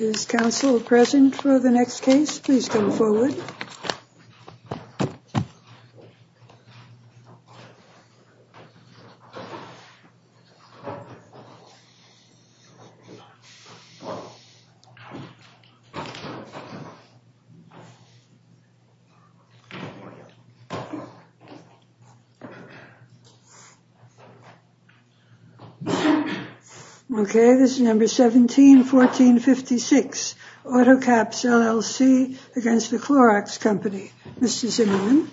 Is counsel present for the next case? Please come forward. Okay, this is number 17-14-56, Auto-Kaps, LLC against the Clorox Company. Okay, this is your name.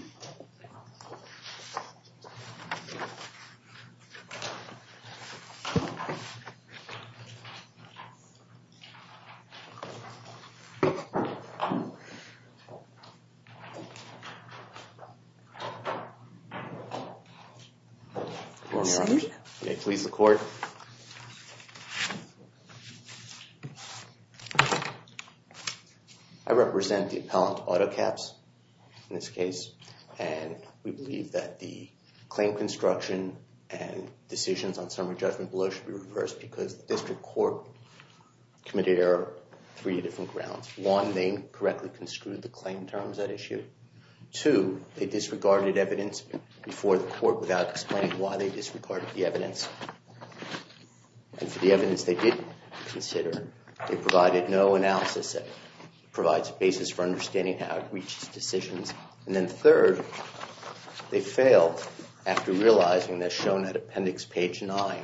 I represent the appellant, Auto-Kaps, in this case. And we believe that the claim construction and decisions on summary judgment below should be reversed because the district court committed error on three different grounds. One, they incorrectly construed the claim terms at issue. Two, they disregarded evidence before the court without explaining why they disregarded the evidence. And for the evidence they did consider, they provided no analysis that provides a basis for understanding how it reaches decisions. And then third, they failed after realizing, as shown at appendix page 9,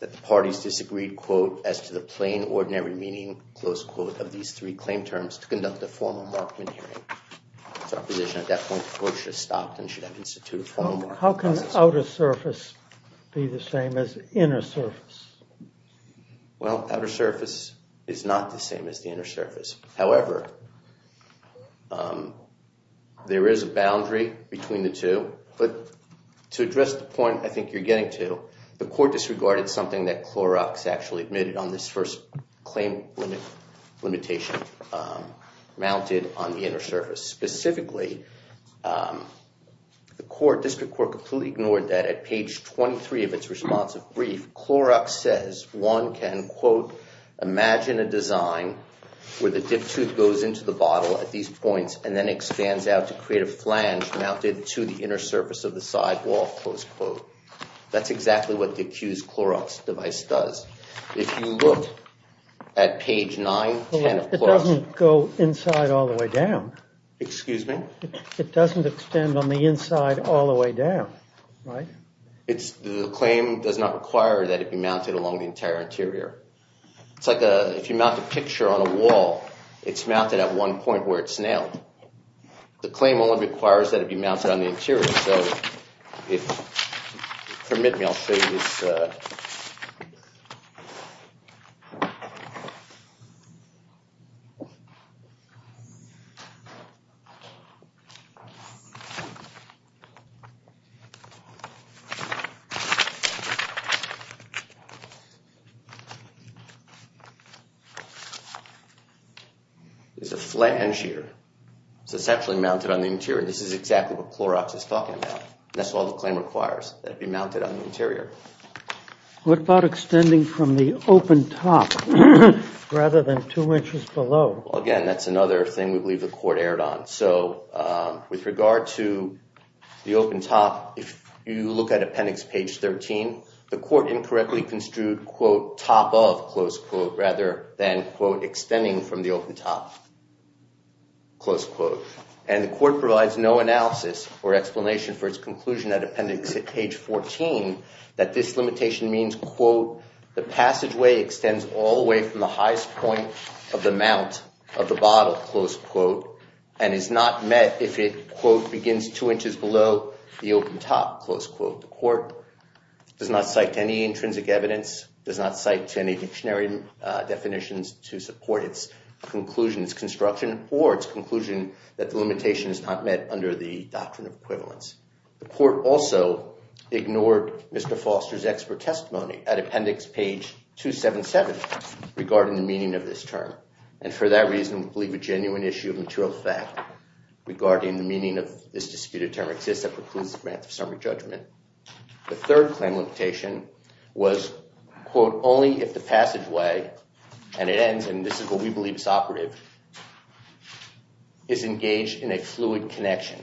that the parties disagreed, quote, as to the plain, ordinary meaning, close quote, of these three claim terms to conduct a formal markman hearing. So our position at that point is the court should have stopped and should have instituted formal markman hearings. How can outer surface be the same as inner surface? Well, outer surface is not the same as the inner surface. However, there is a boundary between the two. But to address the point I think you're getting to, the court disregarded something that Clorox actually admitted on this first claim limitation mounted on the inner surface. Specifically, the court, district court, completely ignored that at page 23 of its responsive brief. Clorox says one can, quote, imagine a design where the dip tooth goes into the bottle at these points and then expands out to create a flange mounted to the inner surface of the sidewall, close quote. That's exactly what the accused Clorox device does. If you look at page 9, 10 of Clorox. It doesn't go inside all the way down. Excuse me? It doesn't extend on the inside all the way down, right? The claim does not require that it be mounted along the entire interior. It's like if you mount a picture on a wall, it's mounted at one point where it's nailed. The claim only requires that it be mounted on the interior. So if you'll permit me, I'll show you this. It's a flange here. It's essentially mounted on the interior. This is exactly what Clorox is talking about. That's all the claim requires, that it be mounted on the interior. What about extending from the open top rather than two inches below? Again, that's another thing we believe the court erred on. So with regard to the open top, if you look at appendix page 13, the court incorrectly construed, quote, top of, close quote, rather than, quote, extending from the open top, close quote. And the court provides no analysis or explanation for its conclusion at appendix page 14 that this limitation means, quote, the passageway extends all the way from the highest point of the mount of the bottle, close quote, and is not met if it, quote, begins two inches below the open top, close quote. The court does not cite any intrinsic evidence, does not cite any dictionary definitions to support its conclusion, its construction or its conclusion that the limitation is not met under the doctrine of equivalence. The court also ignored Mr. Foster's expert testimony at appendix page 277 regarding the meaning of this term. And for that reason, we believe a genuine issue of material fact regarding the meaning of this disputed term exists that precludes advance of summary judgment. The third claim limitation was, quote, only if the passageway, and it ends, and this is what we believe is operative, is engaged in a fluid connection.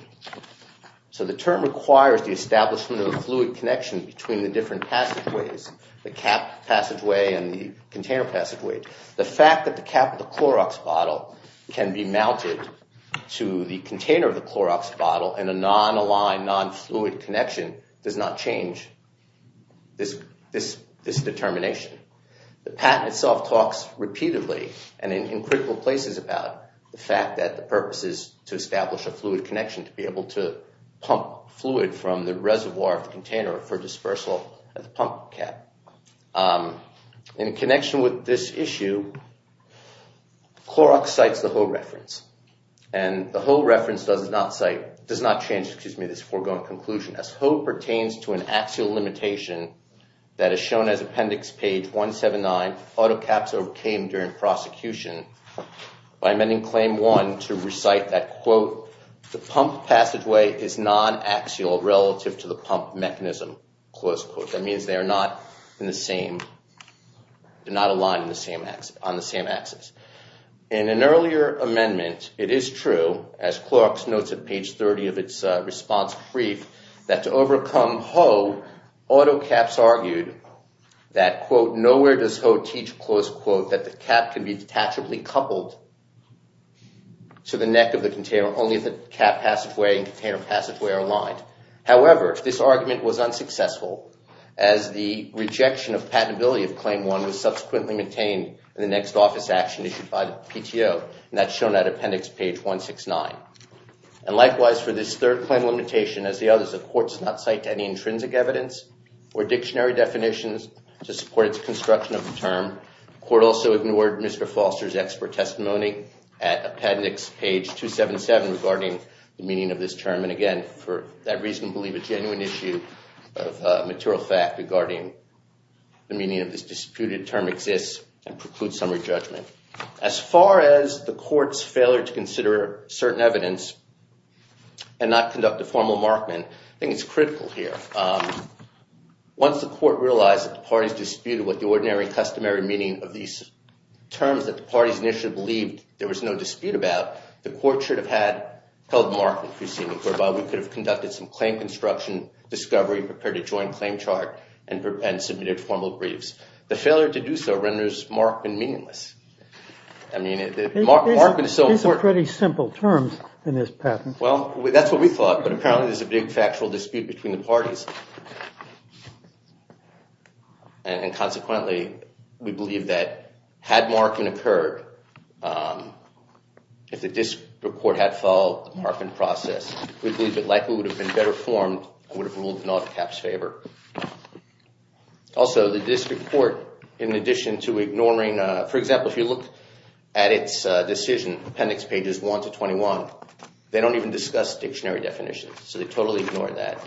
So the term requires the establishment of a fluid connection between the different passageways, the cap passageway and the container passageway. The fact that the cap of the Clorox bottle can be mounted to the container of the Clorox bottle in a non-aligned, non-fluid connection does not change this determination. The patent itself talks repeatedly and in critical places about the fact that the purpose is to establish a fluid connection to be able to pump fluid from the reservoir of the container for dispersal of the pump cap. In connection with this issue, Clorox cites the Ho reference. And the Ho reference does not cite, does not change, excuse me, this foregoing conclusion. As Ho pertains to an axial limitation that is shown as appendix page 179, auto caps overcame during prosecution by amending claim one to recite that, quote, the pump passageway is non-axial relative to the pump mechanism, close quote. That means they are not in the same, do not align on the same axis. In an earlier amendment, it is true, as Clorox notes at page 30 of its response brief, that to overcome Ho, auto caps argued that, quote, where does Ho teach, close quote, that the cap can be detachably coupled to the neck of the container only if the cap passageway and container passageway are aligned. However, this argument was unsuccessful as the rejection of patentability of claim one was subsequently maintained in the next office action issued by the PTO. And that's shown at appendix page 169. And likewise, for this third claim limitation, as the others, the court does not cite any intrinsic evidence or dictionary definitions to support its construction of the term. The court also ignored Mr. Foster's expert testimony at appendix page 277 regarding the meaning of this term. And again, for that reason, I believe a genuine issue of material fact regarding the meaning of this disputed term exists and precludes summary judgment. As far as the court's failure to consider certain evidence and not conduct a formal markman, I think it's critical here. Once the court realized that the parties disputed what the ordinary and customary meaning of these terms that the parties initially believed there was no dispute about, the court should have held a markman proceeding whereby we could have conducted some claim construction, discovery, prepared a joint claim chart, and submitted formal briefs. The failure to do so renders markman meaningless. Markman is so important. These are pretty simple terms in this patent. Well, that's what we thought, but apparently there's a big factual dispute between the parties. And consequently, we believe that had markman occurred, if the district court had followed the markman process, we believe it likely would have been better formed and would have ruled in all caps favor. Also, the district court, in addition to ignoring, for example, if you look at its decision, appendix pages 1 to 21, they don't even discuss dictionary definitions, so they totally ignore that.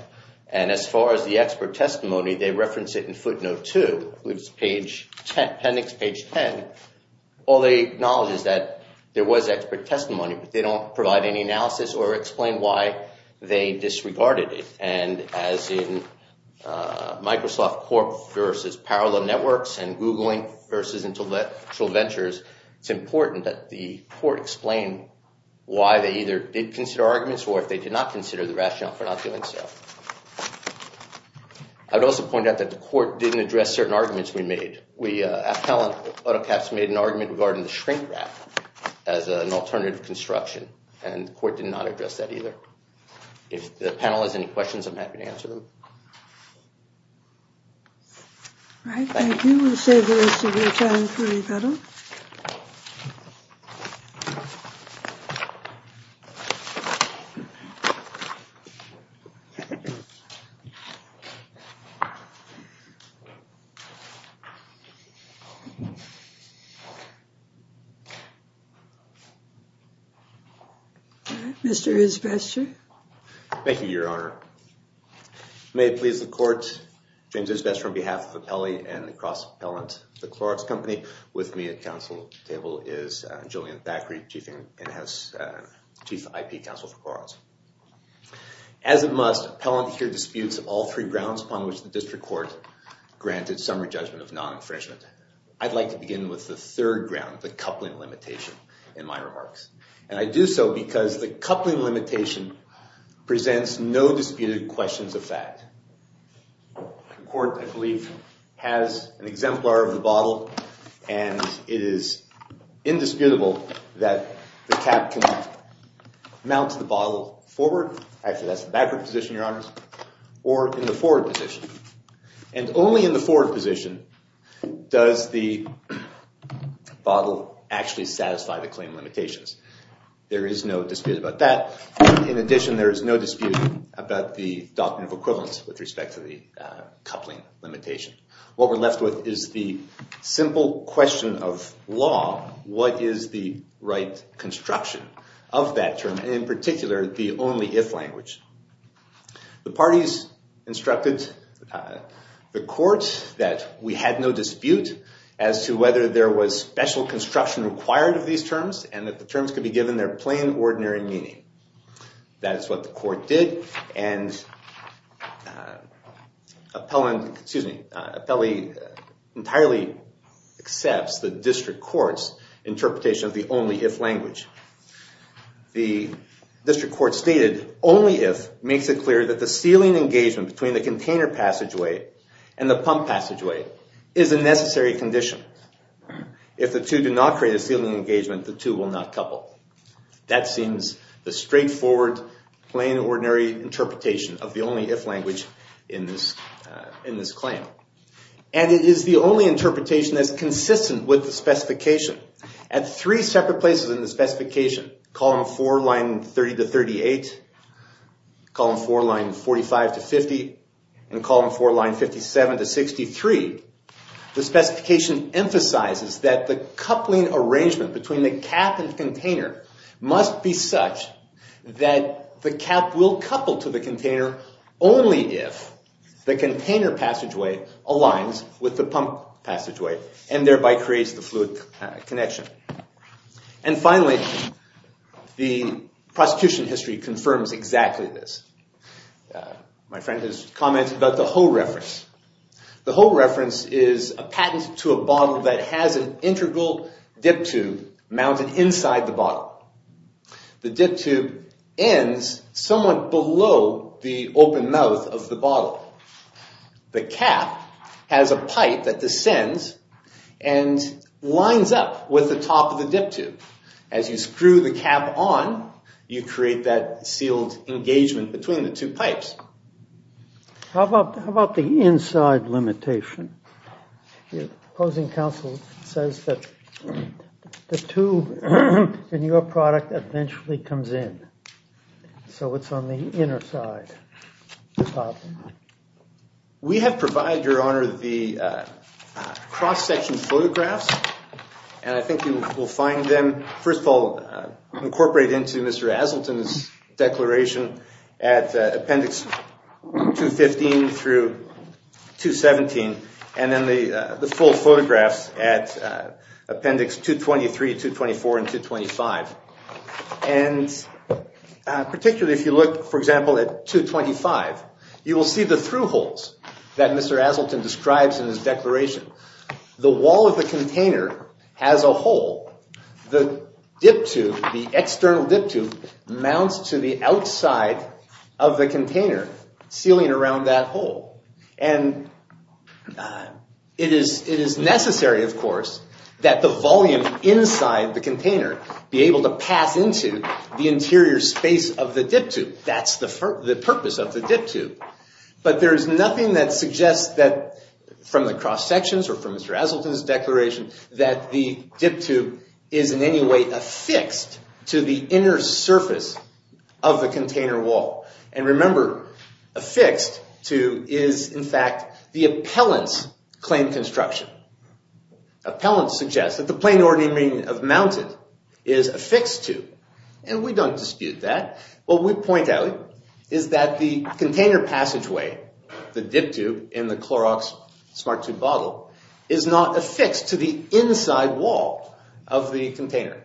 And as far as the expert testimony, they reference it in footnote 2, which is appendix page 10. All they acknowledge is that there was expert testimony, but they don't provide any analysis or explain why they disregarded it. And as in Microsoft Corp versus Parallel Networks and Googling versus Intellectual Ventures, it's important that the court explain why they either did consider arguments or if they did not consider the rationale for not doing so. I would also point out that the court didn't address certain arguments we made. We at Helen AutoCats made an argument regarding the shrink wrap as an alternative construction, and the court did not address that either. If the panel has any questions, I'm happy to answer them. All right, thank you. We'll save the rest of your time for rebuttal. All right, Mr. Isbester. Thank you, Your Honor. May it please the court, James Isbester on behalf of the Pelley and the Cross Appellant, the Clorox Company. With me at council table is Jillian Thackery, chief IP counsel for Clorox. As a must, appellant here disputes all three grounds upon which the district court granted summary judgment of non-infringement. I'd like to begin with the third ground, the coupling limitation, in my remarks. And I do so because the coupling limitation presents no disputed questions of fact. The court, I believe, has an exemplar of the bottle, and it is indisputable that the cap can mount the bottle forward. Actually, that's the backward position, Your Honors. Or in the forward position. And only in the forward position does the bottle actually satisfy the claim limitations. There is no dispute about that. In addition, there is no dispute about the doctrine of equivalence with respect to the coupling limitation. What we're left with is the simple question of law. What is the right construction of that term, and in particular, the only if language? The parties instructed the court that we had no dispute as to whether there was special construction required of these terms, and that the terms could be given their plain, ordinary meaning. That is what the court did. And appellant, excuse me, appellee entirely accepts the district court's interpretation of the only if language. The district court stated, only if makes it clear that the sealing engagement between the container passageway and the pump passageway is a necessary condition. If the two do not create a sealing engagement, the two will not couple. That seems the straightforward, plain, ordinary interpretation of the only if language in this claim. And it is the only interpretation that is consistent with the specification. At three separate places in the specification, column 4, line 30 to 38, column 4, line 45 to 50, and column 4, line 57 to 63, the specification emphasizes that the coupling arrangement between the cap and container must be such that the cap will couple to the container only if the container passageway aligns with the pump passageway and thereby creates the fluid connection. And finally, the prosecution history confirms exactly this. My friend has commented about the Ho reference. The Ho reference is a patent to a bottle that has an integral dip tube mounted inside the bottle. The dip tube ends somewhat below the open mouth of the bottle. The cap has a pipe that descends and lines up with the top of the dip tube. As you screw the cap on, you create that sealed engagement between the two pipes. How about the inside limitation? The opposing counsel says that the tube in your product eventually comes in. So it's on the inner side of the bottle. We have provided, Your Honor, the cross-section photographs. And I think you will find them, first of all, incorporated into Mr. Asselton's declaration at Appendix 215 through 217, and then the full photographs at Appendix 223, 224, and 225. And particularly if you look, for example, at 225, you will see the through holes that Mr. Asselton describes in his declaration. The wall of the container has a hole. The dip tube, the external dip tube, mounts to the outside of the container, sealing around that hole. And it is necessary, of course, that the volume inside the container be able to pass into the interior space of the dip tube. That's the purpose of the dip tube. But there is nothing that suggests that, from the cross-sections or from Mr. Asselton's declaration, that the dip tube is in any way affixed to the inner surface of the container wall. And remember, affixed to is, in fact, the appellant's claim construction. Appellant suggests that the plain ordinary meaning of mounted is affixed to. And we don't dispute that. What we point out is that the container passageway, the dip tube in the Clorox smart tube bottle, is not affixed to the inside wall of the container.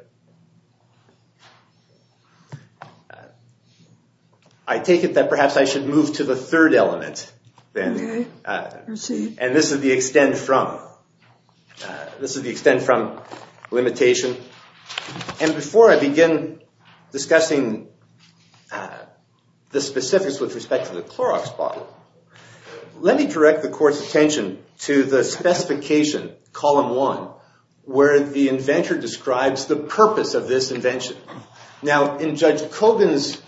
I take it that perhaps I should move to the third element then. And this is the extend from. This is the extend from limitation. And before I begin discussing the specifics with respect to the Clorox bottle, let me direct the court's attention to the specification, column one, where the inventor describes the purpose of this invention. Now, in Judge Kogan's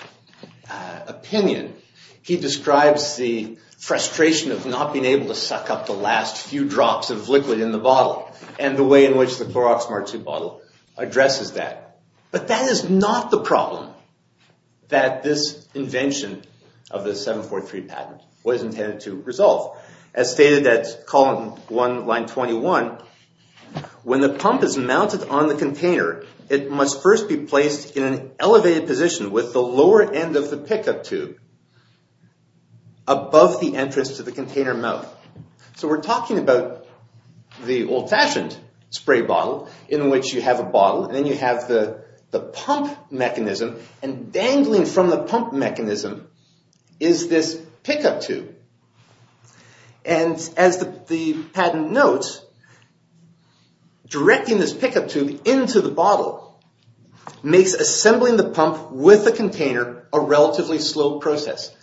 opinion, he describes the frustration of not being able to suck up the last few drops of liquid in the bottle and the way in which the Clorox smart tube bottle addresses that. But that is not the problem that this invention of the 743 patent was intended to resolve. As stated at column one, line 21, when the pump is mounted on the container, it must first be placed in an elevated position with the lower end of the pickup tube above the entrance to the container mouth. So we're talking about the old-fashioned spray bottle in which you have a bottle, and then you have the pump mechanism. And dangling from the pump mechanism is this pickup tube. And as the patent notes, directing this pickup tube into the bottle makes assembling the pump with the container a relatively slow process.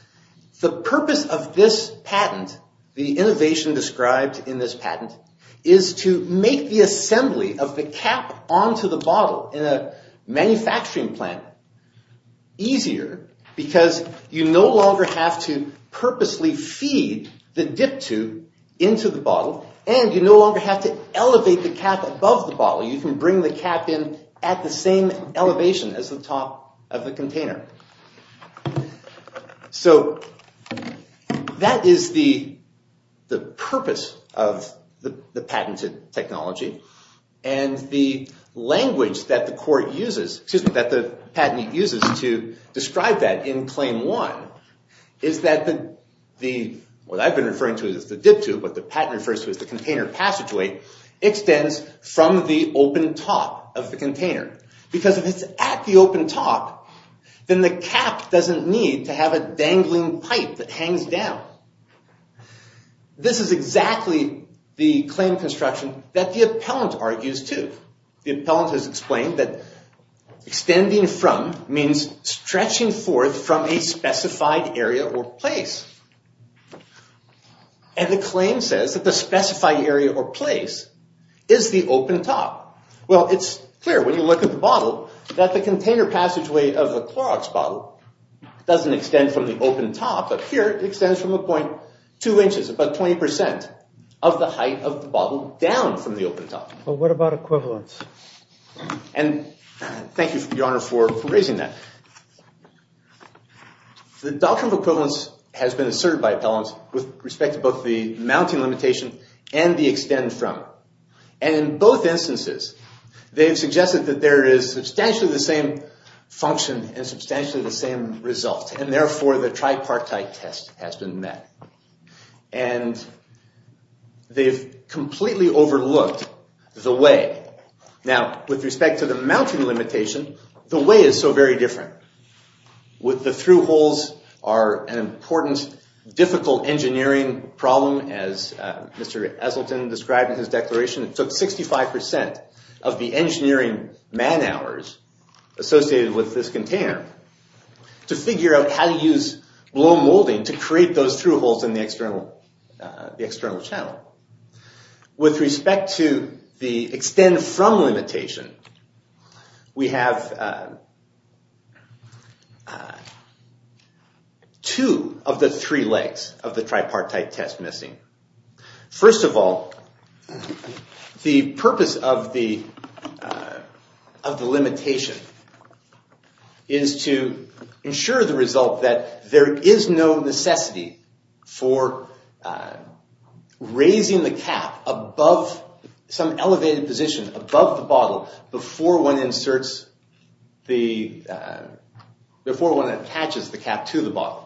The purpose of this patent, the innovation described in this patent, is to make the assembly of the cap onto the bottle in a manufacturing plant easier because you no longer have to purposely feed the dip tube into the bottle, and you no longer have to elevate the cap above the bottle. You can bring the cap in at the same elevation as the top of the container. So that is the purpose of the patented technology. And the language that the patent uses to describe that in claim one is that what I've been referring to as the dip tube, what the patent refers to as the container passageway, extends from the open top of the container. Because if it's at the open top, then the cap doesn't need to have a dangling pipe that hangs down. This is exactly the claim construction that the appellant argues, too. The appellant has explained that extending from means stretching forth from a specified area or place. And the claim says that the specified area or place is the open top. Well, it's clear when you look at the bottle that the container passageway of the Clorox bottle doesn't extend from the open top, but here it extends from a point two inches, about 20% of the height of the bottle down from the open top. But what about equivalence? And thank you, Your Honor, for raising that. The doctrine of equivalence has been asserted by appellants with respect to both the mounting limitation and the extend from. And in both instances, they've suggested that there is substantially the same function and substantially the same result. And therefore, the tripartite test has been met. And they've completely overlooked the way. Now, with respect to the mounting limitation, the way is so very different. With the through holes are an important, difficult engineering problem, as Mr. Esselton described in his declaration. It took 65% of the engineering man hours associated with this container to figure out how to use blown molding to create those through holes in the external channel. With respect to the extend from limitation, we have two of the three legs of the tripartite test missing. First of all, the purpose of the limitation is to ensure the result that there is no necessity for raising the cap above some elevated position, above the bottle, before one inserts the, before one attaches the cap to the bottle.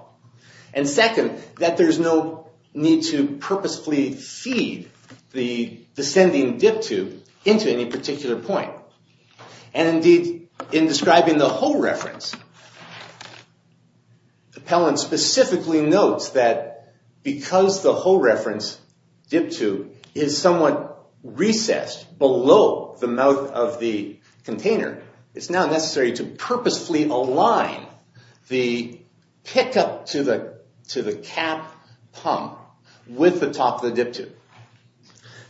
And second, that there's no need to purposefully feed the descending dip tube into any particular point. And indeed, in describing the hole reference, the appellant specifically notes that because the hole reference dip tube is somewhat recessed below the mouth of the container, it's now necessary to purposefully align the pickup to the cap pump with the top of the dip tube.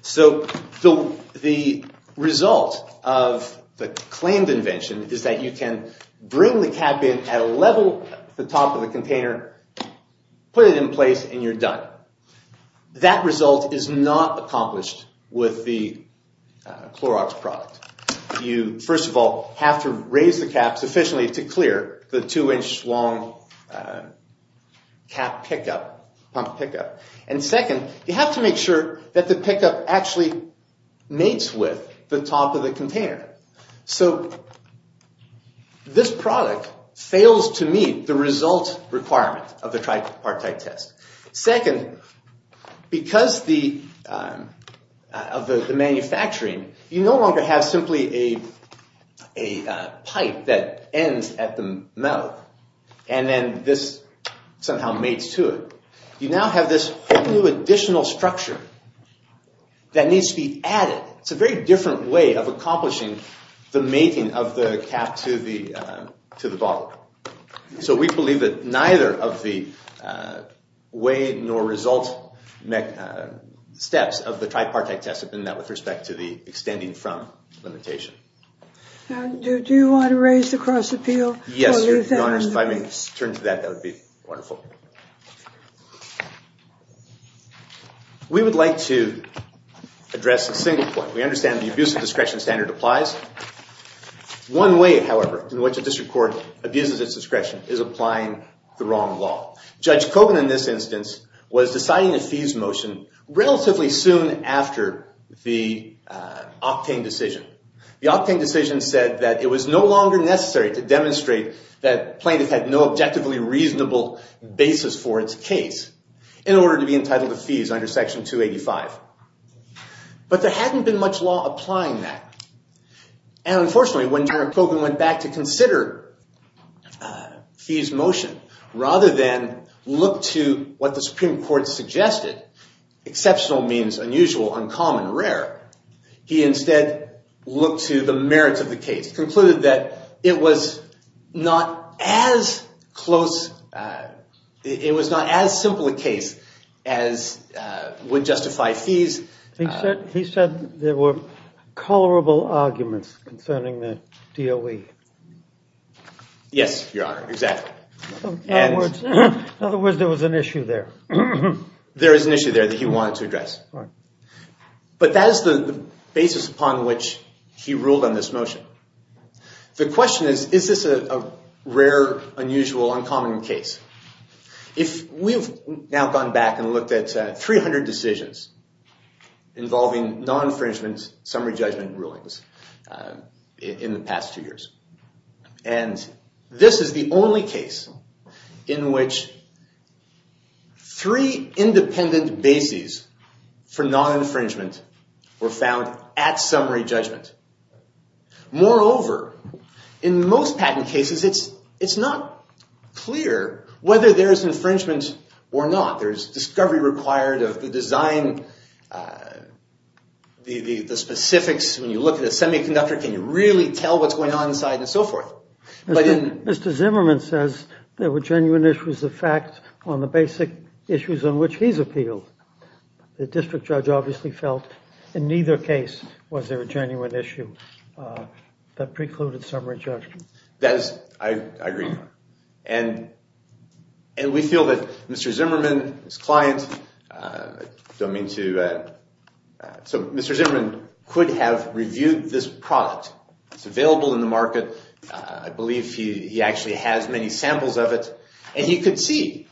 So the result of the claimed invention is that you can bring the cap in at a level at the top of the container, put it in place, and you're done. That result is not accomplished with the Clorox product. You, first of all, have to raise the cap sufficiently to clear the two-inch long cap pickup, pump pickup. And second, you have to make sure that the pickup actually mates with the top of the container. So this product fails to meet the result requirement of the tripartite test. Second, because of the manufacturing, you no longer have simply a pipe that ends at the mouth, and then this somehow mates to it. You now have this whole new additional structure that needs to be added. It's a very different way of accomplishing the mating of the cap to the bottle. So we believe that neither of the way nor result steps of the tripartite test have been met with respect to the extending from limitation. Do you want to raise the cross-appeal? Yes, if I may turn to that, that would be wonderful. We would like to address a single point. We understand the abusive discretion standard applies. One way, however, in which a district court abuses its discretion is applying the wrong law. Judge Kogan, in this instance, was deciding a fees motion relatively soon after the Octane decision. The Octane decision said that it was no longer necessary to demonstrate that plaintiff had no objectively reasonable basis for its case in order to be entitled to fees under Section 285. But there hadn't been much law applying that. And unfortunately, when Judge Kogan went back to consider fees motion rather than look to what the Supreme Court suggested, exceptional means unusual, uncommon, rare, he instead looked to the merits of the case, concluded that it was not as simple a case as would justify fees. He said there were colorable arguments concerning the DOE. Yes, Your Honor, exactly. In other words, there was an issue there. There was an issue there that he wanted to address. But that is the basis upon which he ruled on this motion. The question is, is this a rare, unusual, uncommon case? We've now gone back and looked at 300 decisions involving non-infringement summary judgment rulings in the past two years. And this is the only case in which three independent bases for non-infringement were found at summary judgment. Moreover, in most patent cases, it's not clear whether there's infringement or not. There's discovery required of the design, the specifics. When you look at a semiconductor, can you really tell what's going on inside and so forth? Mr. Zimmerman says there were genuine issues of fact on the basic issues on which he's appealed. The district judge obviously felt in neither case was there a genuine issue that precluded summary judgment. I agree. And we feel that Mr. Zimmerman, his client, could have reviewed this product. It's available in the market. I believe he actually has many samples of it. And he could see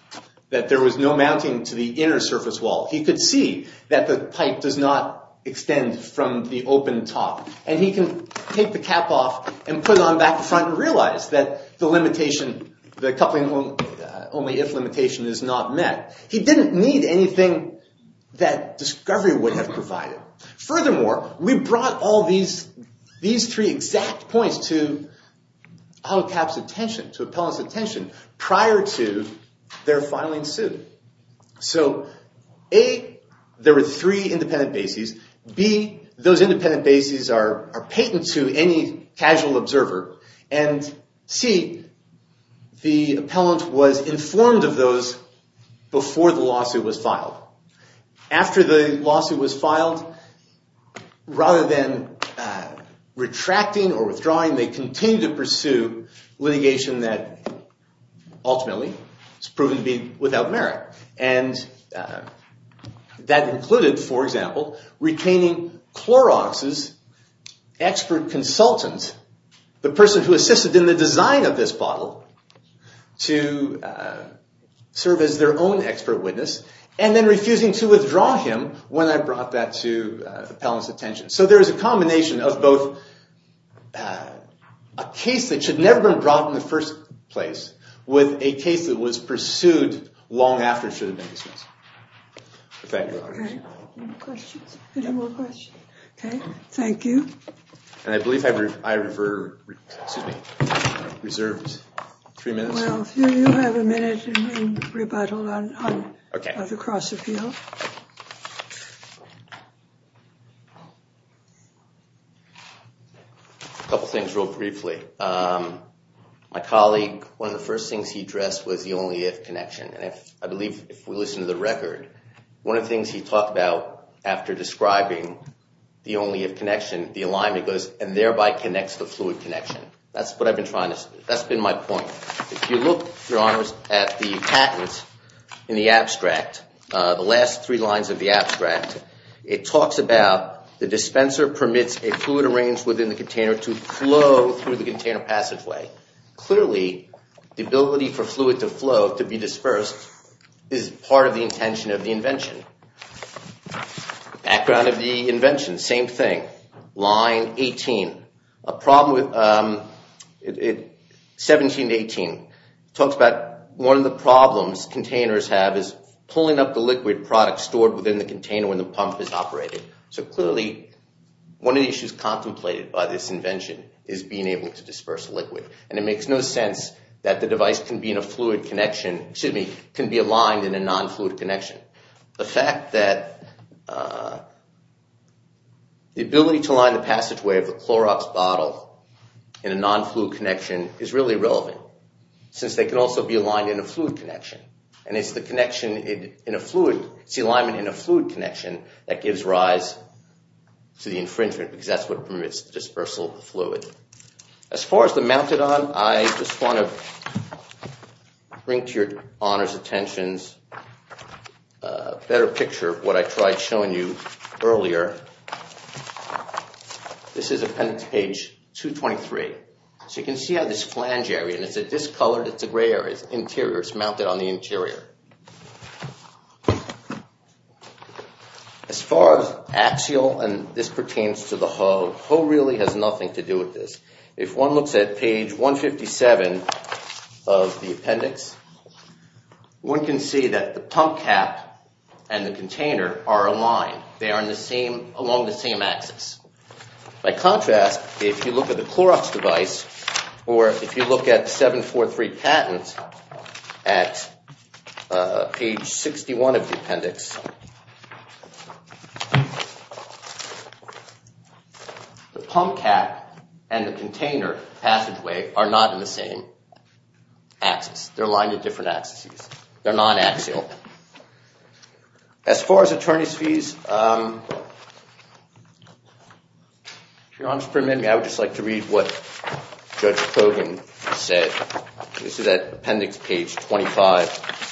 that there was no mounting to the inner surface wall. He could see that the pipe does not extend from the open top. And he can take the cap off and put it on back to front and realize that the coupling only if limitation is not met. He didn't need anything that discovery would have provided. Furthermore, we brought all these three exact points to Honkap's attention, to Appellant's attention, prior to their filing suit. So A, there were three independent bases. B, those independent bases are patent to any casual observer. And C, the appellant was informed of those before the lawsuit was filed. After the lawsuit was filed, rather than retracting or withdrawing, they continued to pursue litigation that ultimately has proven to be without merit. And that included, for example, retaining Clorox's expert consultant, the person who assisted in the design of this bottle, to serve as their own expert witness, and then refusing to withdraw him when I brought that to the appellant's attention. So there is a combination of both a case that should never have been brought in the first place with a case that was pursued long after it should have been dismissed. Thank you. Any questions? Any more questions? OK. Thank you. And I believe I reserved three minutes. Well, if you have a minute, you can rebuttal on the cross-appeal. A couple things real briefly. My colleague, one of the first things he addressed was the only-if connection. And I believe if we listen to the record, one of the things he talked about after describing the only-if connection, the alignment goes, and thereby connects the fluid connection. That's what I've been trying to say. That's been my point. If you look, Your Honors, at the patent in the abstract, the last three lines of the abstract, it talks about the dispenser permits a fluid arranged within the container to flow through the container passageway. Clearly, the ability for fluid to flow, to be dispersed, is part of the intention of the invention. Background of the invention, same thing. Line 18, 17 to 18, talks about one of the problems containers have is pulling up the liquid product stored within the container when the pump is operating. So clearly, one of the issues contemplated by this invention is being able to disperse liquid. And it makes no sense that the device can be in a fluid connection, excuse me, can be aligned in a non-fluid connection. The fact that the ability to align the passageway of the Clorox bottle in a non-fluid connection is really relevant. Since they can also be aligned in a fluid connection. And it's the connection in a fluid, it's the alignment in a fluid connection that gives rise to the infringement because that's what permits the dispersal of the fluid. As far as the mounted on, I just want to bring to Your Honors' attentions a better picture of what I tried showing you earlier. This is appendix page 223. So you can see how this flange area, and it's discolored, it's a gray area. It's mounted on the interior. As far as axial, and this pertains to the hoe, hoe really has nothing to do with this. If one looks at page 157 of the appendix, one can see that the pump cap and the container are aligned. They are along the same axis. By contrast, if you look at the Clorox device, or if you look at 743 patent at page 61 of the appendix, the pump cap and the container passageway are not in the same axis. They're aligned at different axes. They're non-axial. As far as attorney's fees, if Your Honors permit me, I would just like to read what Judge Kogan said. This is at appendix page 25.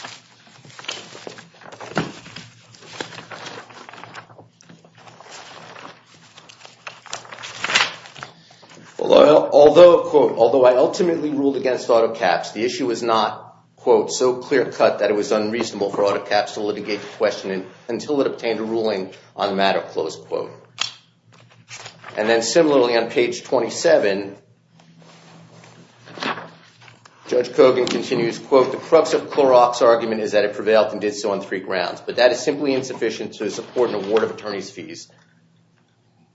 Although, quote, although I ultimately ruled against auto caps, the issue was not, quote, so clear cut that it was unreasonable for auto caps to litigate the question until it obtained a ruling on the matter, close quote. And then similarly on page 27, Judge Kogan continues, quote, the crux of Clorox argument is that it prevailed and did so on three grounds, but that is simply insufficient to support an award of attorney's fees.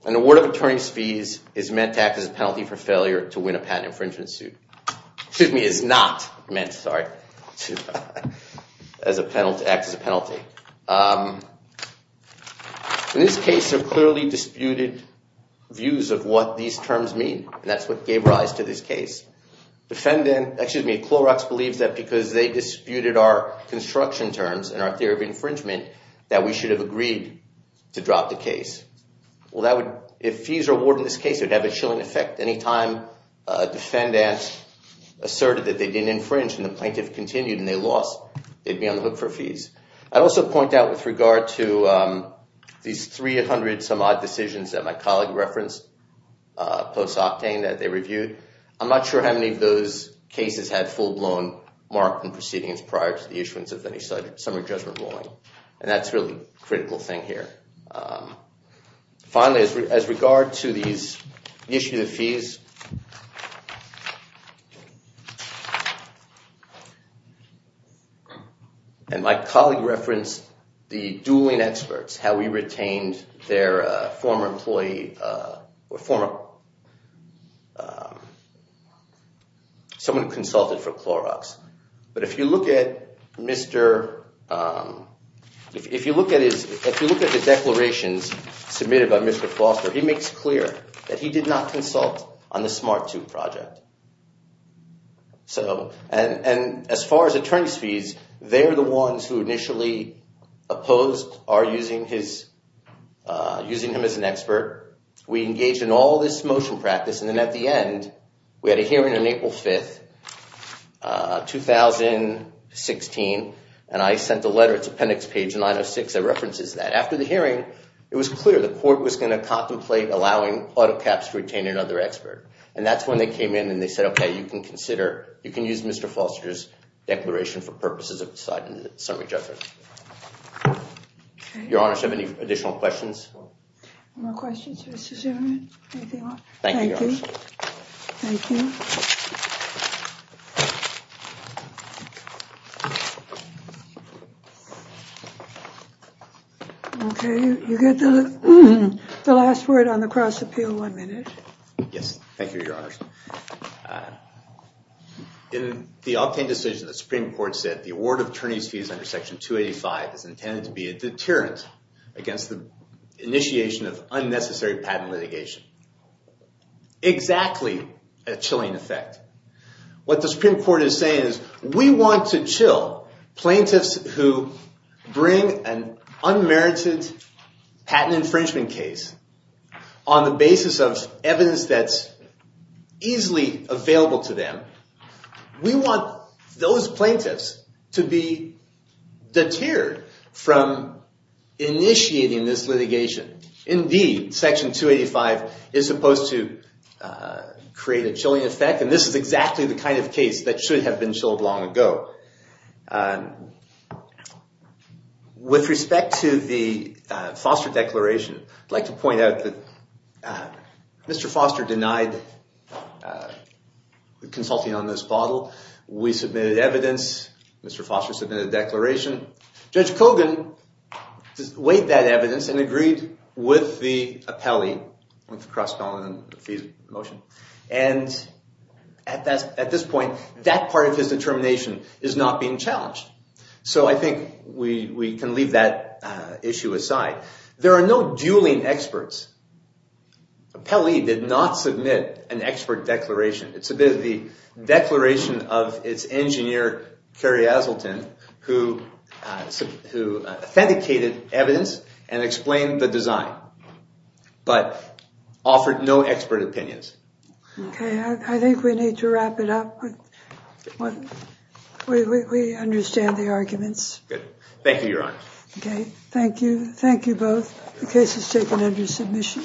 An award of attorney's fees is meant to act as a penalty for failure to win a patent infringement suit. Excuse me, is not meant, sorry, to act as a penalty. In this case, there are clearly disputed views of what these terms mean, and that's what gave rise to this case. Clorox believes that because they disputed our construction terms and our theory of infringement, that we should have agreed to drop the case. If fees are awarded in this case, it would have a chilling effect any time a defendant asserted that they didn't infringe and the plaintiff continued and they lost, they'd be on the hook for fees. I'd also point out with regard to these 300 some odd decisions that my colleague referenced post-Octane that they reviewed, I'm not sure how many of those cases had full blown mark in proceedings prior to the issuance of any summary judgment ruling, and that's a really critical thing here. Finally, as regard to these issues of fees, and my colleague referenced the dueling experts, how we retained their former employee or former someone who consulted for Clorox, but if you look at Mr., if you look at his, if you look at the declarations submitted by Mr. Foster, he makes clear that he did not consult on the SMART II project. And as far as attorney's fees, they're the ones who initially opposed our using his, using him as an expert. We engaged in all this motion practice and then at the end, we had a hearing on April 5th, 2016, and I sent a letter to appendix page 906 that references that. After the hearing, it was clear the court was gonna contemplate allowing auto caps to retain another expert, and that's when they came in and they said, okay, you can consider, you can use Mr. Foster's declaration for purposes of deciding the summary judgment. Your Honor, do you have any additional questions? No questions, Mr. Zimmerman. Anything else? Thank you, Your Honor. Thank you. Okay, you get the, the last word on the cross appeal, one minute. Yes, thank you, Your Honor. In the Octane decision, the Supreme Court said the award of attorney's fees under section 285 is intended to be a deterrent against the initiation of unnecessary patent litigation. Exactly a chilling effect. What the Supreme Court is saying is we want to chill plaintiffs who bring an unmerited patent infringement case on the basis of evidence that's easily available to them. We want those plaintiffs to be deterred from initiating this litigation. Indeed, section 285 is supposed to create a chilling effect, and this is exactly the kind of case that should have been chilled long ago. So, with respect to the Foster declaration, I'd like to point out that Mr. Foster denied consulting on this bottle. We submitted evidence. Mr. Foster submitted a declaration. Judge Kogan weighed that evidence and agreed with the appellee, with the cross-appellant fees motion. And at this point, that part of his determination is not being challenged. So, I think we can leave that issue aside. There are no dueling experts. Appellee did not submit an expert declaration. It's a bit of the declaration of its engineer, Kerry Asselton, who authenticated evidence and explained the design, but offered no expert opinions. Okay, I think we need to wrap it up. We understand the arguments. Thank you, Your Honor. Okay, thank you. Thank you both. The case is taken under submission.